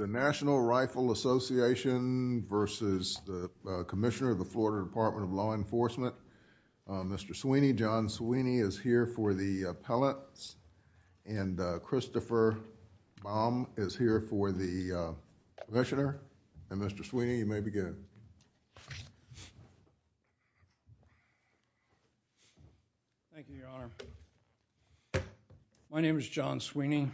Mr. Sweeney, John Sweeney is here for the appellate and Christopher Baum is here for the commissioner. And Mr. Sweeney, you may begin. Thank you, Your Honor. My name is John Sweeney.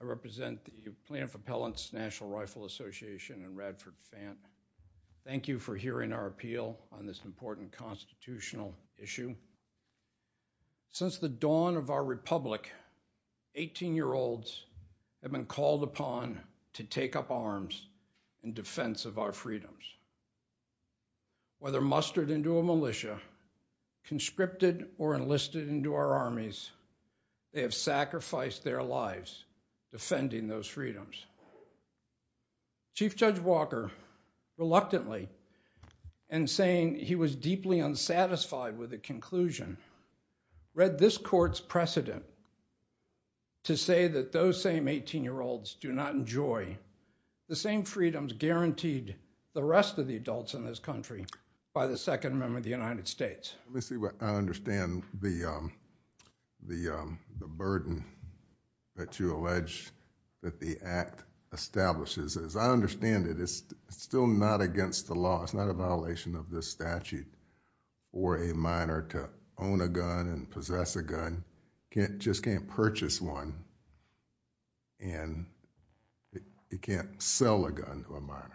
I represent the Plaintiff Appellant's National Rifle Association in Radford, Van. Thank you for hearing our appeal on this important constitutional issue. Since the dawn of our republic, 18-year-olds have been called upon to take up arms in defense of our freedoms. Whether mustered into a militia, conscripted or enlisted into our armies, they have sacrificed their lives defending those freedoms. Chief Judge Walker, reluctantly and saying he was deeply unsatisfied with the conclusion, read this court's precedent to say that those same 18-year-olds do not enjoy the same freedoms guaranteed the rest of the adults in this country by the second member of the United States. Let me see what I understand the burden that you allege that the act establishes. As I understand it, it's still not against the law, it's not a violation of this statute for a minor to own a gun and possess a gun, just can't purchase one and you can't sell a gun to a minor.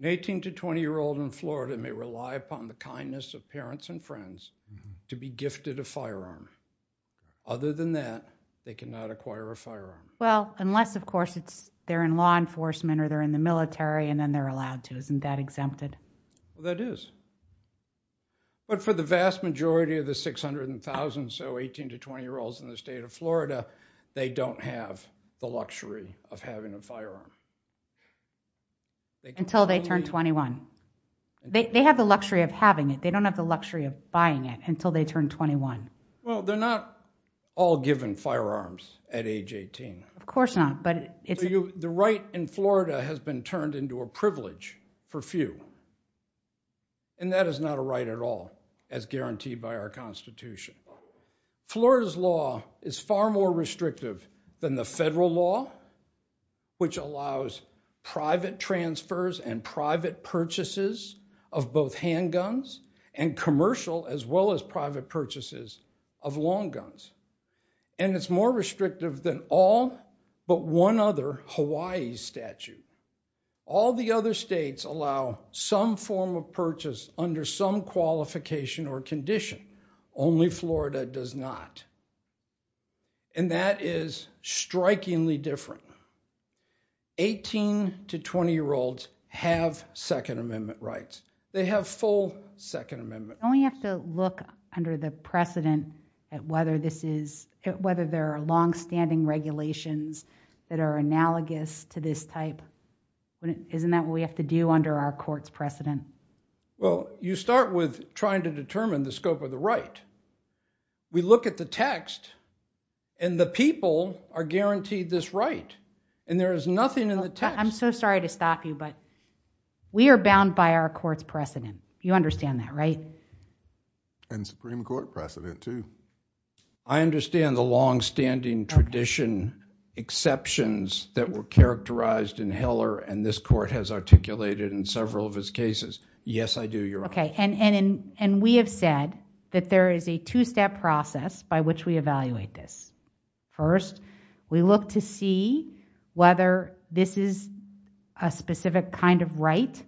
An 18- to 20-year-old in Florida may rely upon the kindness of parents and friends to be gifted a firearm. Other than that, they cannot acquire a firearm. Well, unless of course they're in law enforcement or they're in the military and then they're allowed to. Isn't that exempted? Well, that is. But for the vast majority of the 600,000 or so 18- to 20-year-olds in the state of Florida, they don't have the luxury of having a firearm. Until they turn 21. They have the luxury of having it, they don't have the luxury of buying it until they turn 21. Well, they're not all given firearms at age 18. Of course not. The right in Florida has been turned into a privilege for few and that is not a right at all as guaranteed by our Constitution. Florida's law is far more restrictive than the federal law, which allows private transfers and private purchases of both handguns and commercial as well as private purchases of long guns. And it's more restrictive than all but one other Hawaii statute. All the other states allow some form of purchase under some qualification or condition. Only Florida does not. And that is strikingly different. 18- to 20-year-olds have Second Amendment rights. They have full Second Amendment rights. Don't we have to look under the precedent at whether there are long-standing regulations that are analogous to this type? Well, you start with trying to determine the scope of the right. We look at the text and the people are guaranteed this right and there is nothing in the text. I'm so sorry to stop you but we are bound by our court's precedent. You understand that, right? And Supreme Court precedent too. I understand the long-standing tradition exceptions that were characterized in Heller and this Yes, I do, Your Honor. And we have said that there is a two-step process by which we evaluate this. First, we look to see whether this is a specific kind of right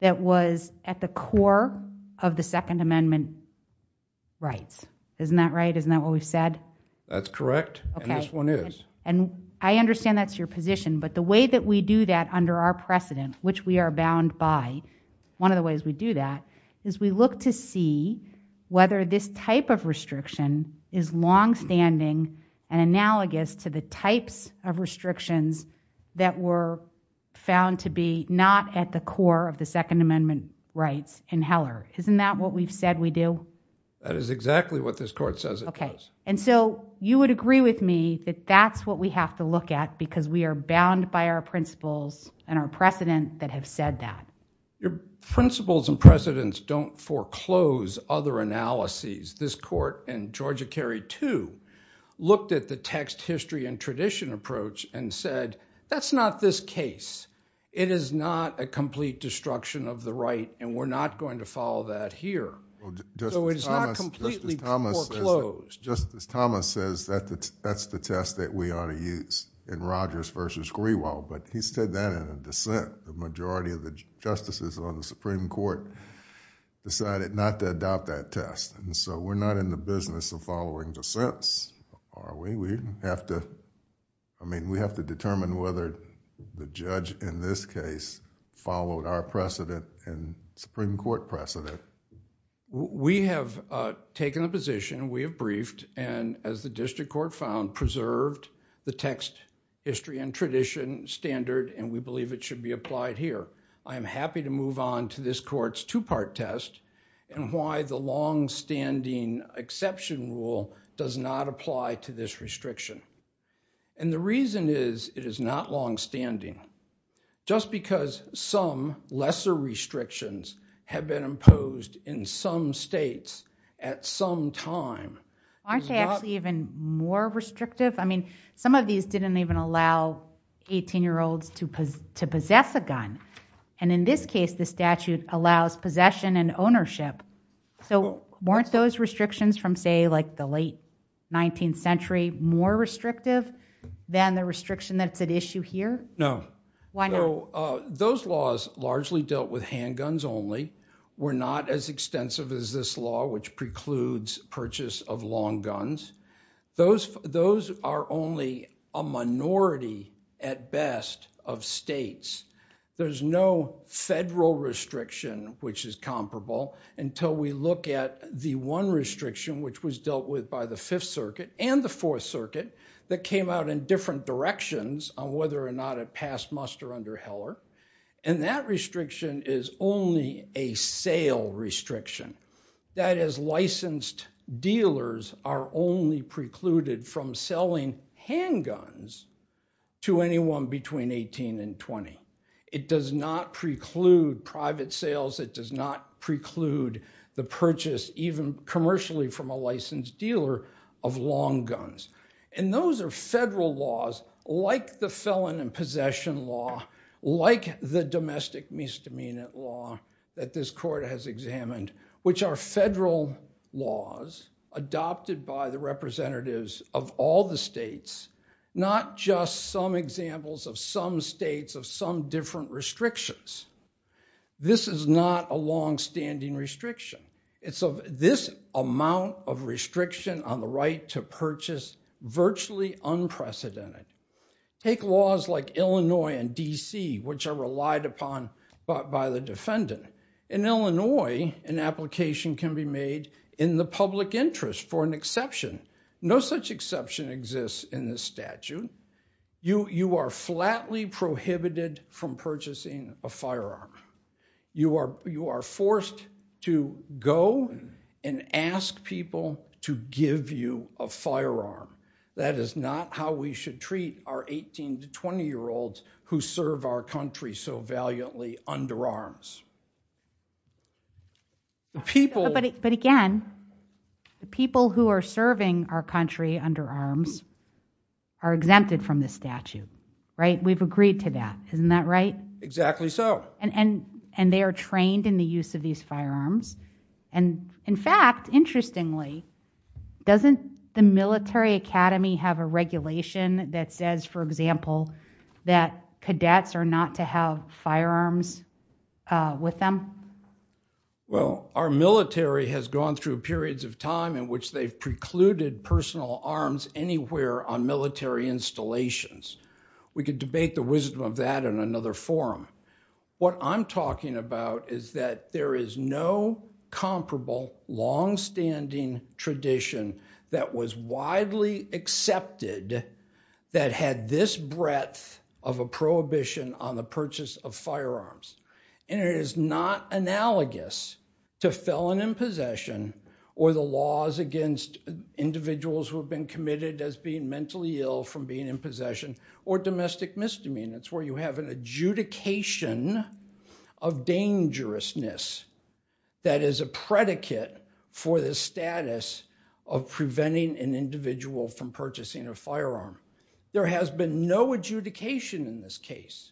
that was at the core of the Second Amendment rights. Isn't that right? Isn't that what we've said? That's correct. And this one is. And I understand that's your position but the way that we do that under our precedent, which we are bound by, one of the ways we do that is we look to see whether this type of restriction is long-standing and analogous to the types of restrictions that were found to be not at the core of the Second Amendment rights in Heller. Isn't that what we've said we do? That is exactly what this court says it does. And so you would agree with me that that's what we have to look at because we are bound by our principles and our precedent that have said that. Your principles and precedents don't foreclose other analyses. This court and Georgia Carey, too, looked at the text, history, and tradition approach and said, that's not this case. It is not a complete destruction of the right and we're not going to follow that here. So it's not completely foreclosed. Just as Thomas says, that's the test that we ought to use in Rogers versus Grewal, but he said that in a dissent. The majority of the justices on the Supreme Court decided not to adopt that test. So we're not in the business of following dissents, are we? We have to determine whether the judge in this case followed our precedent and Supreme Court precedent. We have taken a position, we have briefed, and as the district court found, preserved the text, history, and tradition standard and we believe it should be applied here. I am happy to move on to this court's two-part test and why the longstanding exception rule does not apply to this restriction. And the reason is, it is not longstanding. Just because some lesser restrictions have been imposed in some states at some time. Aren't they actually even more restrictive? I mean, some of these didn't even allow 18-year-olds to possess a gun. And in this case, the statute allows possession and ownership. So weren't those restrictions from, say, like the late 19th century more restrictive than the restriction that's at issue here? No. Why not? So those laws largely dealt with handguns only, were not as extensive as this law which precludes purchase of long guns. Those are only a minority, at best, of states. There's no federal restriction which is comparable until we look at the one restriction which was dealt with by the Fifth Circuit and the Fourth Circuit that came out in different directions on whether or not it passed muster under Heller. And that restriction is only a sale restriction. That is, licensed dealers are only precluded from selling handguns to anyone between 18 and 20. It does not preclude private sales. It does not preclude the purchase, even commercially from a licensed dealer, of long guns. And those are federal laws, like the felon in possession law, like the domestic misdemeanor law that this court has examined, which are federal laws adopted by the representatives of all the states, not just some examples of some states of some different restrictions. This is not a longstanding restriction. It's of this amount of restriction on the right to purchase, virtually unprecedented. Take laws like Illinois and D.C., which are relied upon by the defendant. In Illinois, an application can be made in the public interest for an exception. No such exception exists in this statute. You are flatly prohibited from purchasing a firearm. You are forced to go and ask people to give you a firearm. That is not how we should treat our 18- to 20-year-olds who serve our country so valiantly under arms. But again, people who are serving our country under arms are exempted from this statute. We've agreed to that. Isn't that right? Exactly so. And they are trained in the use of these firearms. And in fact, interestingly, doesn't the military academy have a regulation that says, for example, that cadets are not to have firearms with them? Well, our military has gone through periods of time in which they've precluded personal arms anywhere on military installations. We could debate the wisdom of that in another forum. What I'm talking about is that there is no comparable longstanding tradition that was widely accepted that had this breadth of a prohibition on the purchase of firearms. And it is not analogous to felon in possession or the laws against individuals who have been or domestic misdemeanors where you have an adjudication of dangerousness that is a predicate for the status of preventing an individual from purchasing a firearm. There has been no adjudication in this case.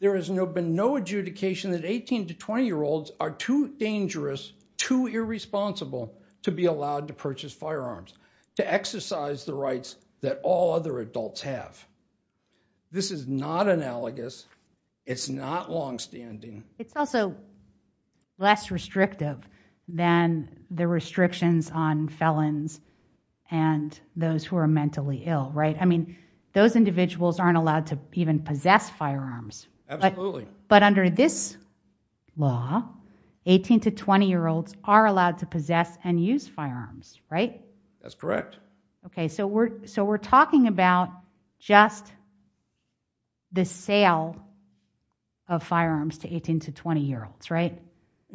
There has been no adjudication that 18- to 20-year-olds are too dangerous, too irresponsible to be allowed to purchase firearms, to exercise the rights that all other adults have. This is not analogous. It's not longstanding. It's also less restrictive than the restrictions on felons and those who are mentally ill, right? I mean, those individuals aren't allowed to even possess firearms. Absolutely. But under this law, 18- to 20-year-olds are allowed to possess and use firearms, right? That's correct. Okay, so we're talking about just the sale of firearms to 18- to 20-year-olds, right?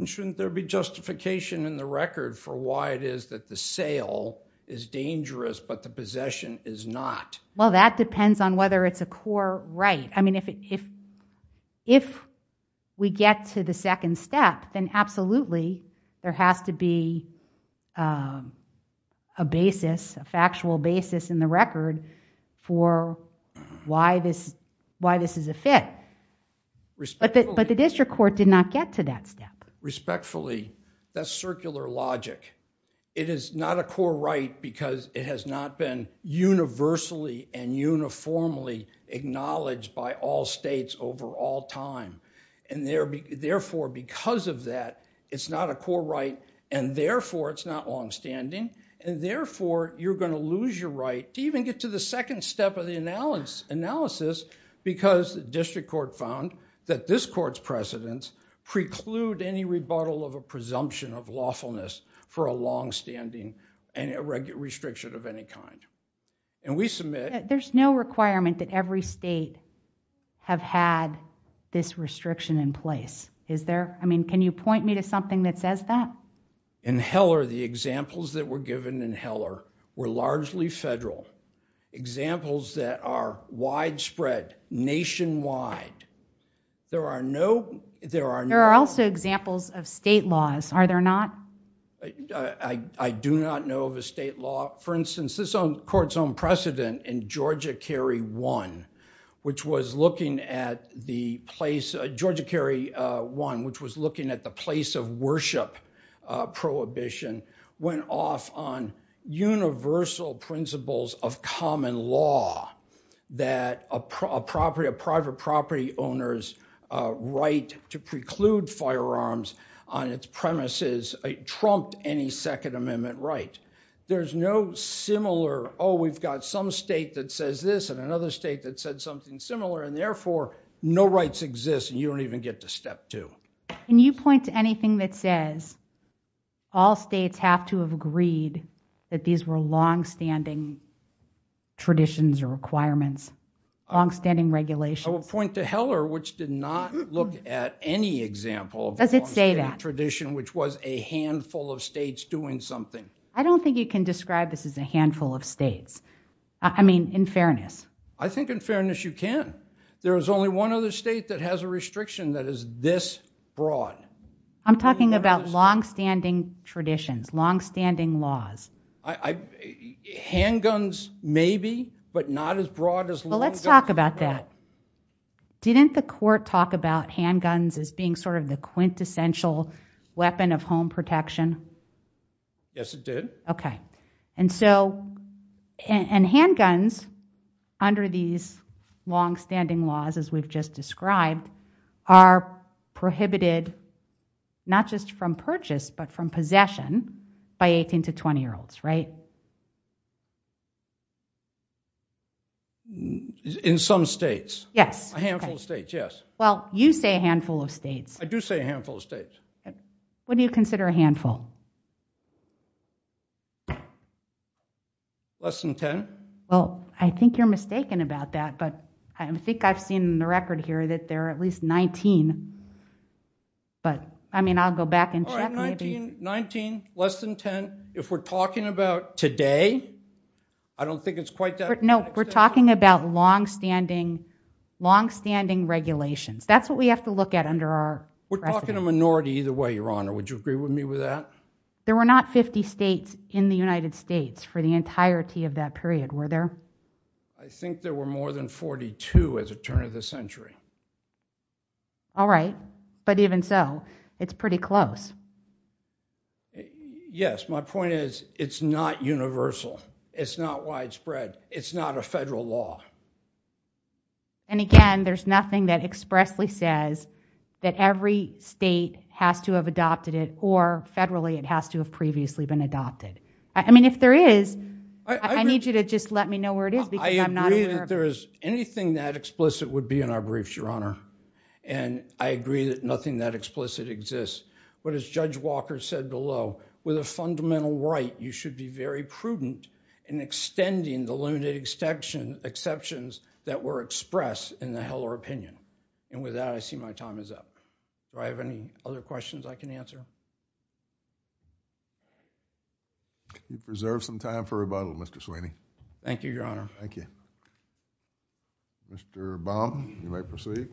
Shouldn't there be justification in the record for why it is that the sale is dangerous but the possession is not? Well, that depends on whether it's a core right. I mean, if we get to the second step, then absolutely there has to be a basis, a factual basis in the record for why this is a fit. But the district court did not get to that step. Respectfully, that's circular logic. It is not a core right because it has not been universally and uniformly acknowledged by all states over all time. And therefore, because of that, it's not a core right, and therefore, it's not longstanding. And therefore, you're going to lose your right to even get to the second step of the analysis because the district court found that this court's precedents preclude any rebuttal of a presumption of lawfulness for a longstanding restriction of any kind. And we submit- There's no requirement that every state have had this restriction in place. Is there? I mean, can you point me to something that says that? In Heller, the examples that were given in Heller were largely federal. Examples that are widespread nationwide. There are no- There are also examples of state laws, are there not? I do not know of a state law. For instance, this court's own precedent in Georgia Carry 1, which was looking at the place- Georgia Carry 1, which was looking at the place of worship prohibition, went off on universal principles of common law that a private property owner's right to preclude firearms on its premises trumped any Second Amendment right. There's no similar, oh, we've got some state that says this and another state that said something similar, and therefore, no rights exist and you don't even get to step two. Can you point to anything that says all states have to have agreed that these were longstanding traditions or requirements? Longstanding regulations? I will point to Heller, which did not look at any example of a longstanding tradition, which was a handful of states doing something. I don't think you can describe this as a handful of states, I mean, in fairness. I think in fairness, you can. There is only one other state that has a restriction that is this broad. I'm talking about longstanding traditions, longstanding laws. Handguns maybe, but not as broad as long- Well, let's talk about that. Didn't the court talk about handguns as being sort of the quintessential weapon of home protection? Yes, it did. Okay. And so, and handguns under these longstanding laws, as we've just described, are prohibited not just from purchase, but from possession by 18 to 20-year-olds, right? In some states. Yes. A handful of states, yes. Well, you say a handful of states. I do say a handful of states. What do you consider a handful? Less than 10. Well, I think you're mistaken about that, but I think I've seen in the record here that there are at least 19, but I mean, I'll go back and check. All right, 19, less than 10. If we're talking about today, I don't think it's quite that- No, we're talking about longstanding regulations. That's what we have to look at under our- We're talking a minority either way, Your Honor. Would you agree with me with that? There were not 50 states in the United States for the entirety of that period, were there? I think there were more than 42 at the turn of the century. All right, but even so, it's pretty close. Yes, my point is it's not universal. It's not widespread. It's not a federal law. Again, there's nothing that expressly says that every state has to have adopted it or federally it has to have previously been adopted. If there is, I need you to just let me know where it is because I'm not aware of it. I agree that there is anything that explicit would be in our briefs, Your Honor. I agree that nothing that explicit exists, but as Judge Walker said below, with a fundamental right, you should be very prudent in extending the limited exceptions that were expressed in the Heller opinion. With that, I see my time is up. Do I have any other questions I can answer? Could you preserve some time for rebuttal, Mr. Sweeney? Thank you, Your Honor. Thank you. Mr. Baum, you may proceed.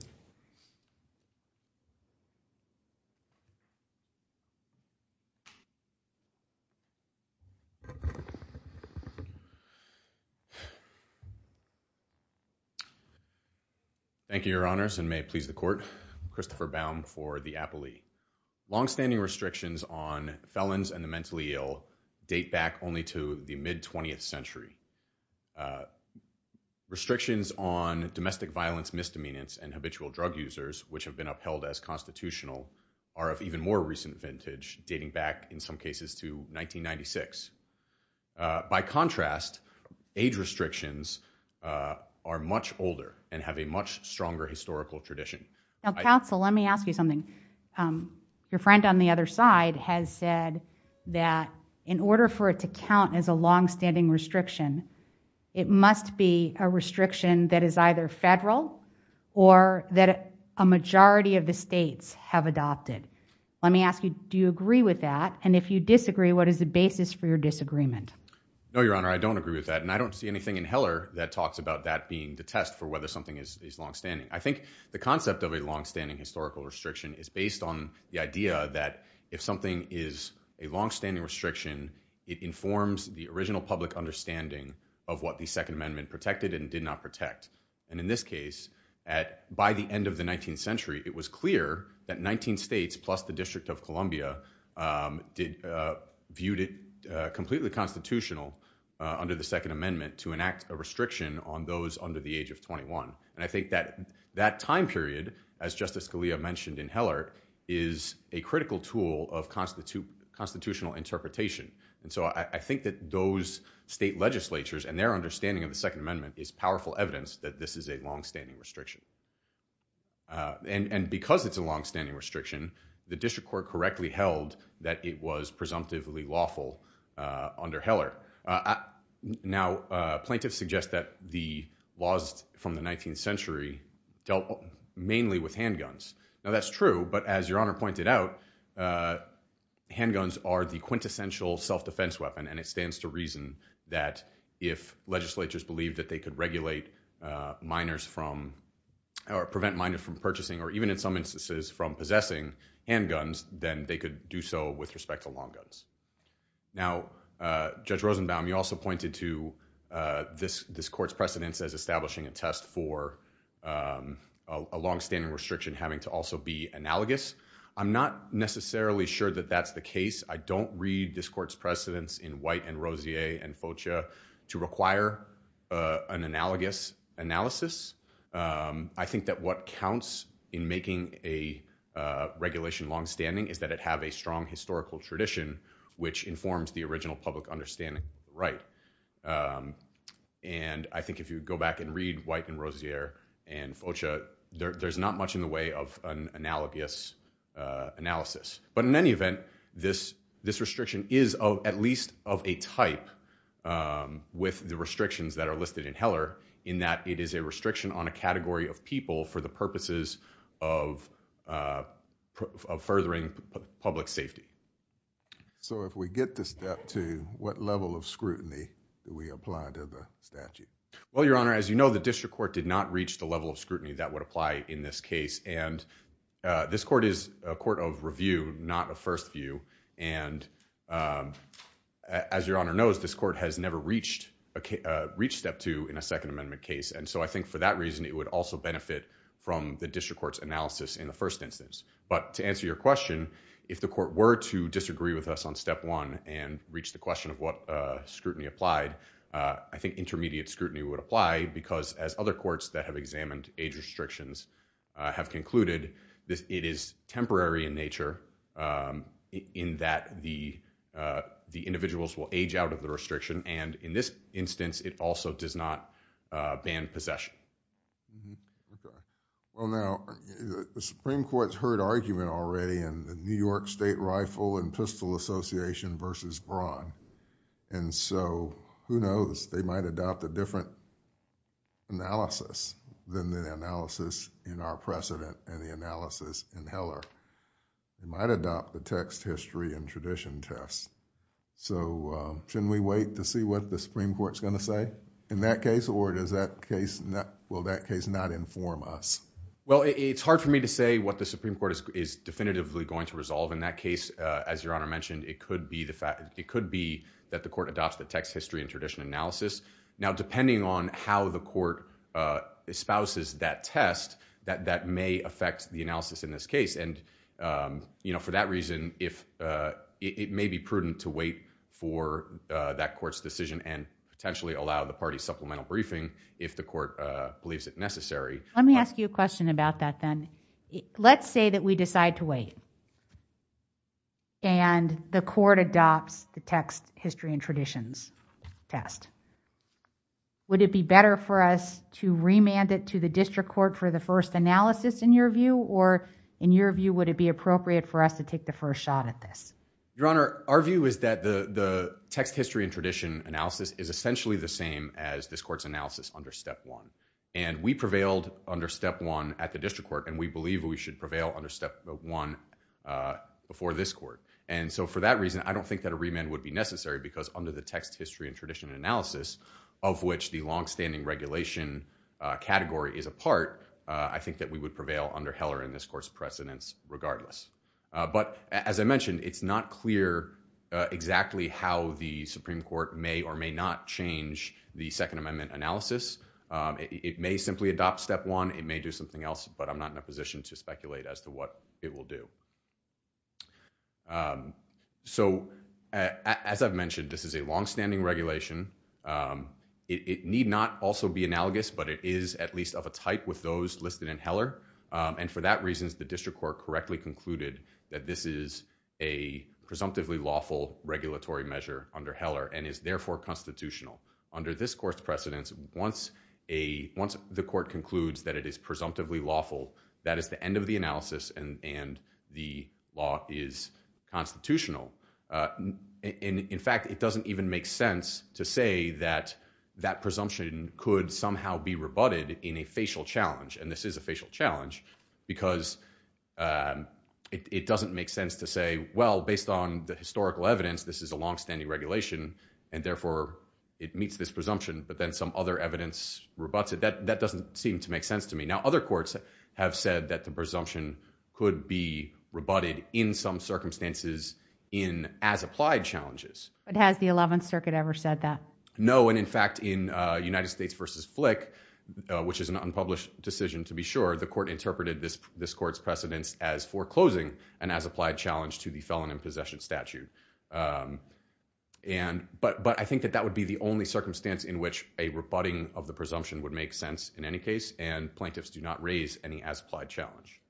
Thank you, Your Honors, and may it please the Court. Christopher Baum for the Appellee. Longstanding restrictions on felons and the mentally ill date back only to the mid-20th century. Restrictions on domestic violence, misdemeanors, and habitual drug users, which have been upheld as constitutional, are of even more recent vintage, dating back in some cases to 1996. By contrast, age restrictions are much older and have a much stronger historical tradition. Now, counsel, let me ask you something. Your friend on the other side has said that in order for it to count as a longstanding restriction, it must be a restriction that is either federal or that a majority of the states have adopted. Let me ask you, do you agree with that? And if you disagree, what is the basis for your disagreement? No, Your Honor, I don't agree with that, and I don't see anything in Heller that talks about that being the test for whether something is longstanding. I think the concept of a longstanding historical restriction is based on the idea that if something is a longstanding restriction, it informs the original public understanding of what the Second Amendment protected and did not protect. And in this case, by the end of the 19th century, it was clear that 19 states plus the District of Columbia viewed it completely constitutional under the Second Amendment to enact a restriction on those under the age of 21. And I think that that time period, as Justice Scalia mentioned in Heller, is a critical tool of constitutional interpretation. And so I think that those state legislatures and their understanding of the Second Amendment is powerful evidence that this is a longstanding restriction. And because it's a longstanding restriction, the district court correctly held that it was presumptively lawful under Heller. Now, plaintiffs suggest that the laws from the 19th century dealt mainly with handguns. Now, that's true. But as Your Honor pointed out, handguns are the quintessential self-defense weapon, and it stands to reason that if legislatures believed that they could regulate minors from or prevent minors from purchasing or even in some instances from possessing handguns, then they could do so with respect to long guns. Now, Judge Rosenbaum, you also pointed to this court's precedence as establishing a precedent for a longstanding restriction having to also be analogous. I'm not necessarily sure that that's the case. I don't read this court's precedence in White and Rosier and Foccia to require an analogous analysis. I think that what counts in making a regulation longstanding is that it have a strong historical tradition which informs the original public understanding of the right. And I think if you go back and read White and Rosier and Foccia, there's not much in the way of an analogous analysis. But in any event, this restriction is at least of a type with the restrictions that are listed in Heller in that it is a restriction on a category of people for the purposes of furthering public safety. So if we get to step two, what level of scrutiny do we apply to the statute? Well, Your Honor, as you know, the district court did not reach the level of scrutiny that would apply in this case. And this court is a court of review, not a first view. And as Your Honor knows, this court has never reached step two in a Second Amendment case. And so I think for that reason, it would also benefit from the district court's analysis in the first instance. But to answer your question, if the court were to disagree with us on step one and reach the question of what scrutiny applied, I think intermediate scrutiny would apply because as other courts that have examined age restrictions have concluded, it is temporary in nature in that the individuals will age out of the restriction. And in this instance, it also does not ban possession. Okay. Well, now, the Supreme Court has heard argument already in the New York State Rifle and Pistol Association versus Braun. And so who knows, they might adopt a different analysis than the analysis in our precedent and the analysis in Heller. They might adopt the text history and tradition test. So shouldn't we wait to see what the Supreme Court is going to say in that case or does that case, will that case not inform us? Well, it's hard for me to say what the Supreme Court is definitively going to resolve in that case. As Your Honor mentioned, it could be that the court adopts the text history and tradition analysis. Now, depending on how the court espouses that test, that may affect the analysis in this case. And for that reason, it may be prudent to wait for that court's decision and potentially allow the party supplemental briefing if the court believes it necessary. Let me ask you a question about that then. Let's say that we decide to wait and the court adopts the text history and traditions test. Would it be better for us to remand it to the district court for the first analysis in your view or in your view, would it be appropriate for us to take the first shot at this? Your Honor, our view is that the text history and tradition analysis is essentially the same as this court's analysis under step one. And we prevailed under step one at the district court and we believe we should prevail under step one before this court. And so for that reason, I don't think that a remand would be necessary because under the text history and tradition analysis of which the longstanding regulation category is a part, I think that we would prevail under Heller and this court's precedence regardless. But as I mentioned, it's not clear exactly how the Supreme Court may or may not change the second amendment analysis. It may simply adopt step one, it may do something else, but I'm not in a position to speculate as to what it will do. So as I've mentioned, this is a longstanding regulation. It need not also be analogous, but it is at least of a type with those listed in Heller. And for that reason, the district court correctly concluded that this is a presumptively lawful regulatory measure under Heller and is therefore constitutional. Under this court's precedence, once the court concludes that it is presumptively lawful, that is the end of the analysis and the law is constitutional. In fact, it doesn't even make sense to say that that presumption could somehow be rebutted in a facial challenge. And this is a facial challenge because it doesn't make sense to say, well, based on the historical evidence, this is a longstanding regulation and therefore it meets this presumption, but then some other evidence rebutts it. That doesn't seem to make sense to me. Now, other courts have said that the presumption could be rebutted in some circumstances in as applied challenges. But has the 11th Circuit ever said that? No. When in fact in United States v. Flick, which is an unpublished decision to be sure, the court interpreted this court's precedence as foreclosing and as applied challenge to the felon in possession statute. But I think that that would be the only circumstance in which a rebutting of the presumption would make sense in any case and plaintiffs do not raise any as applied challenge.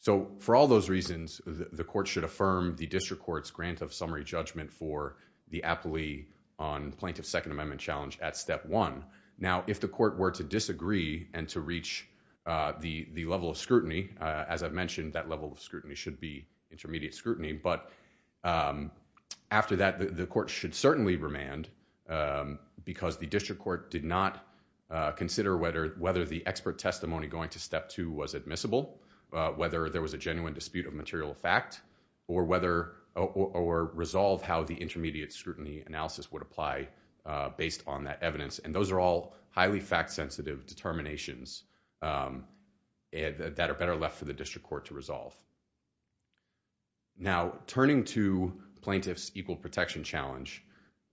So for all those reasons, the court should affirm the district court's grant of summary judgment for the appellee on plaintiff's Second Amendment challenge at Step 1. Now, if the court were to disagree and to reach the level of scrutiny, as I've mentioned, that level of scrutiny should be intermediate scrutiny, but after that, the court should certainly remand because the district court did not consider whether the expert testimony going to Step 2 was admissible, whether there was a genuine dispute of material fact, or resolve how the intermediate scrutiny analysis would apply based on that evidence. And those are all highly fact-sensitive determinations that are better left for the district court to resolve. Now turning to Plaintiff's Equal Protection Challenge,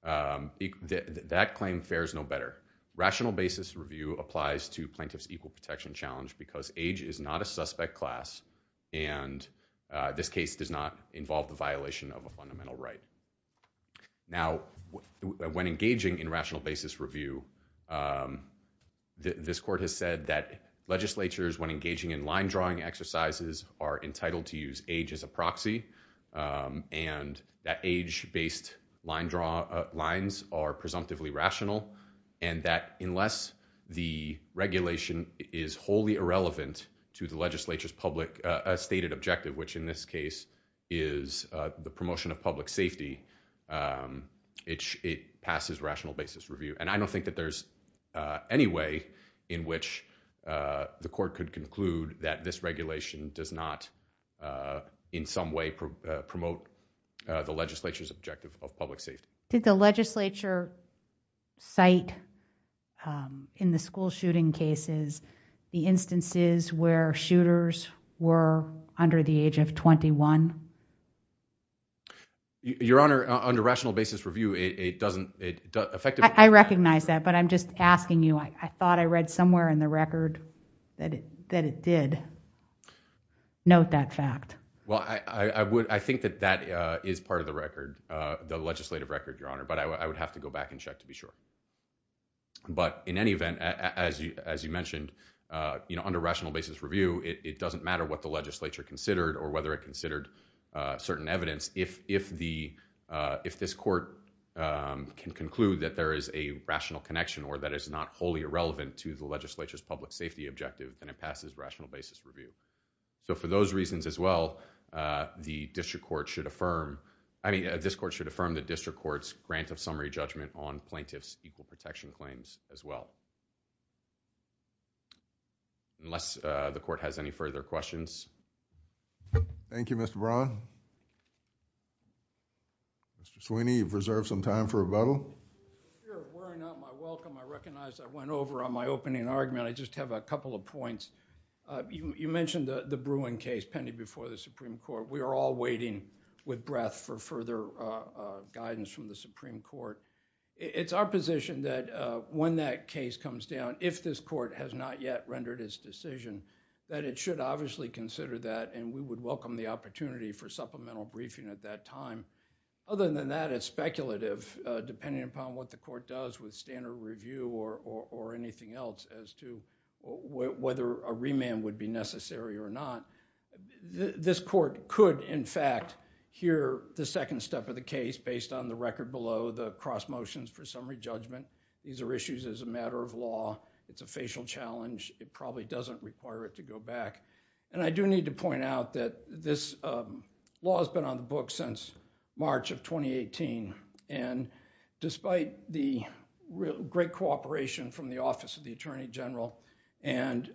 that claim fares no better. Rational basis review applies to Plaintiff's Equal Protection Challenge because age is not a suspect class and this case does not involve the violation of a fundamental right. Now when engaging in rational basis review, this court has said that legislatures, when engaging in line-drawing exercises, are entitled to use age as a proxy and that age-based lines are presumptively rational and that unless the regulation is wholly irrelevant to the legislature's public stated objective, which in this case is the promotion of public safety, it passes rational basis review. And I don't think that there's any way in which the court could conclude that this regulation does not in some way promote the legislature's objective of public safety. Did the legislature cite in the school shooting cases the instances where shooters were under the age of 21? Your Honor, under rational basis review, it doesn't, it effectively does not. I recognize that, but I'm just asking you, I thought I read somewhere in the record that it did note that fact. Well, I think that that is part of the record, the legislative record, Your Honor, but I would have to go back and check to be sure. But in any event, as you mentioned, under rational basis review, it doesn't matter what the legislature considered or whether it considered certain evidence. If this court can conclude that there is a rational connection or that it's not wholly irrelevant to the legislature's public safety objective, then it passes rational basis review. So for those reasons as well, the district court should affirm, I mean, this court should affirm the district court's grant of summary judgment on plaintiff's equal protection claims as well. Unless the court has any further questions. Thank you, Mr. Braun. Mr. Sweeney, you've reserved some time for rebuttal. You're wearing out my welcome. I recognize I went over on my opening argument. I just have a couple of points. You mentioned the Bruin case pending before the Supreme Court. We are all waiting with breath for further guidance from the Supreme Court. It's our position that when that case comes down, if this court has not yet rendered its decision, that it should obviously consider that and we would welcome the opportunity for supplemental briefing at that time. Other than that, it's speculative depending upon what the court does with standard review or anything else as to whether a remand would be necessary or not. This court could, in fact, hear the second step of the case based on the record below, the cross motions for summary judgment. These are issues as a matter of law. It's a facial challenge. It probably doesn't require it to go back. And I do need to point out that this law has been on the books since March of 2018. Despite the great cooperation from the Office of the Attorney General and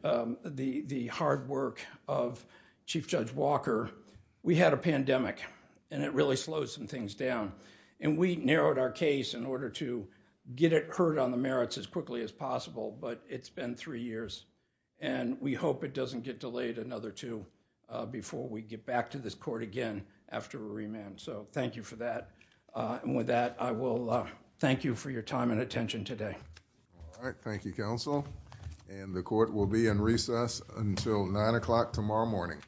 the hard work of Chief Judge Walker, we had a pandemic and it really slowed some things down. We narrowed our case in order to get it heard on the merits as quickly as possible, but it's been three years. We hope it doesn't get delayed another two before we get back to this court again after a remand, so thank you for that. With that, I will thank you for your time and attention today. Thank you, counsel. The court will be in recess until 9 o'clock tomorrow morning.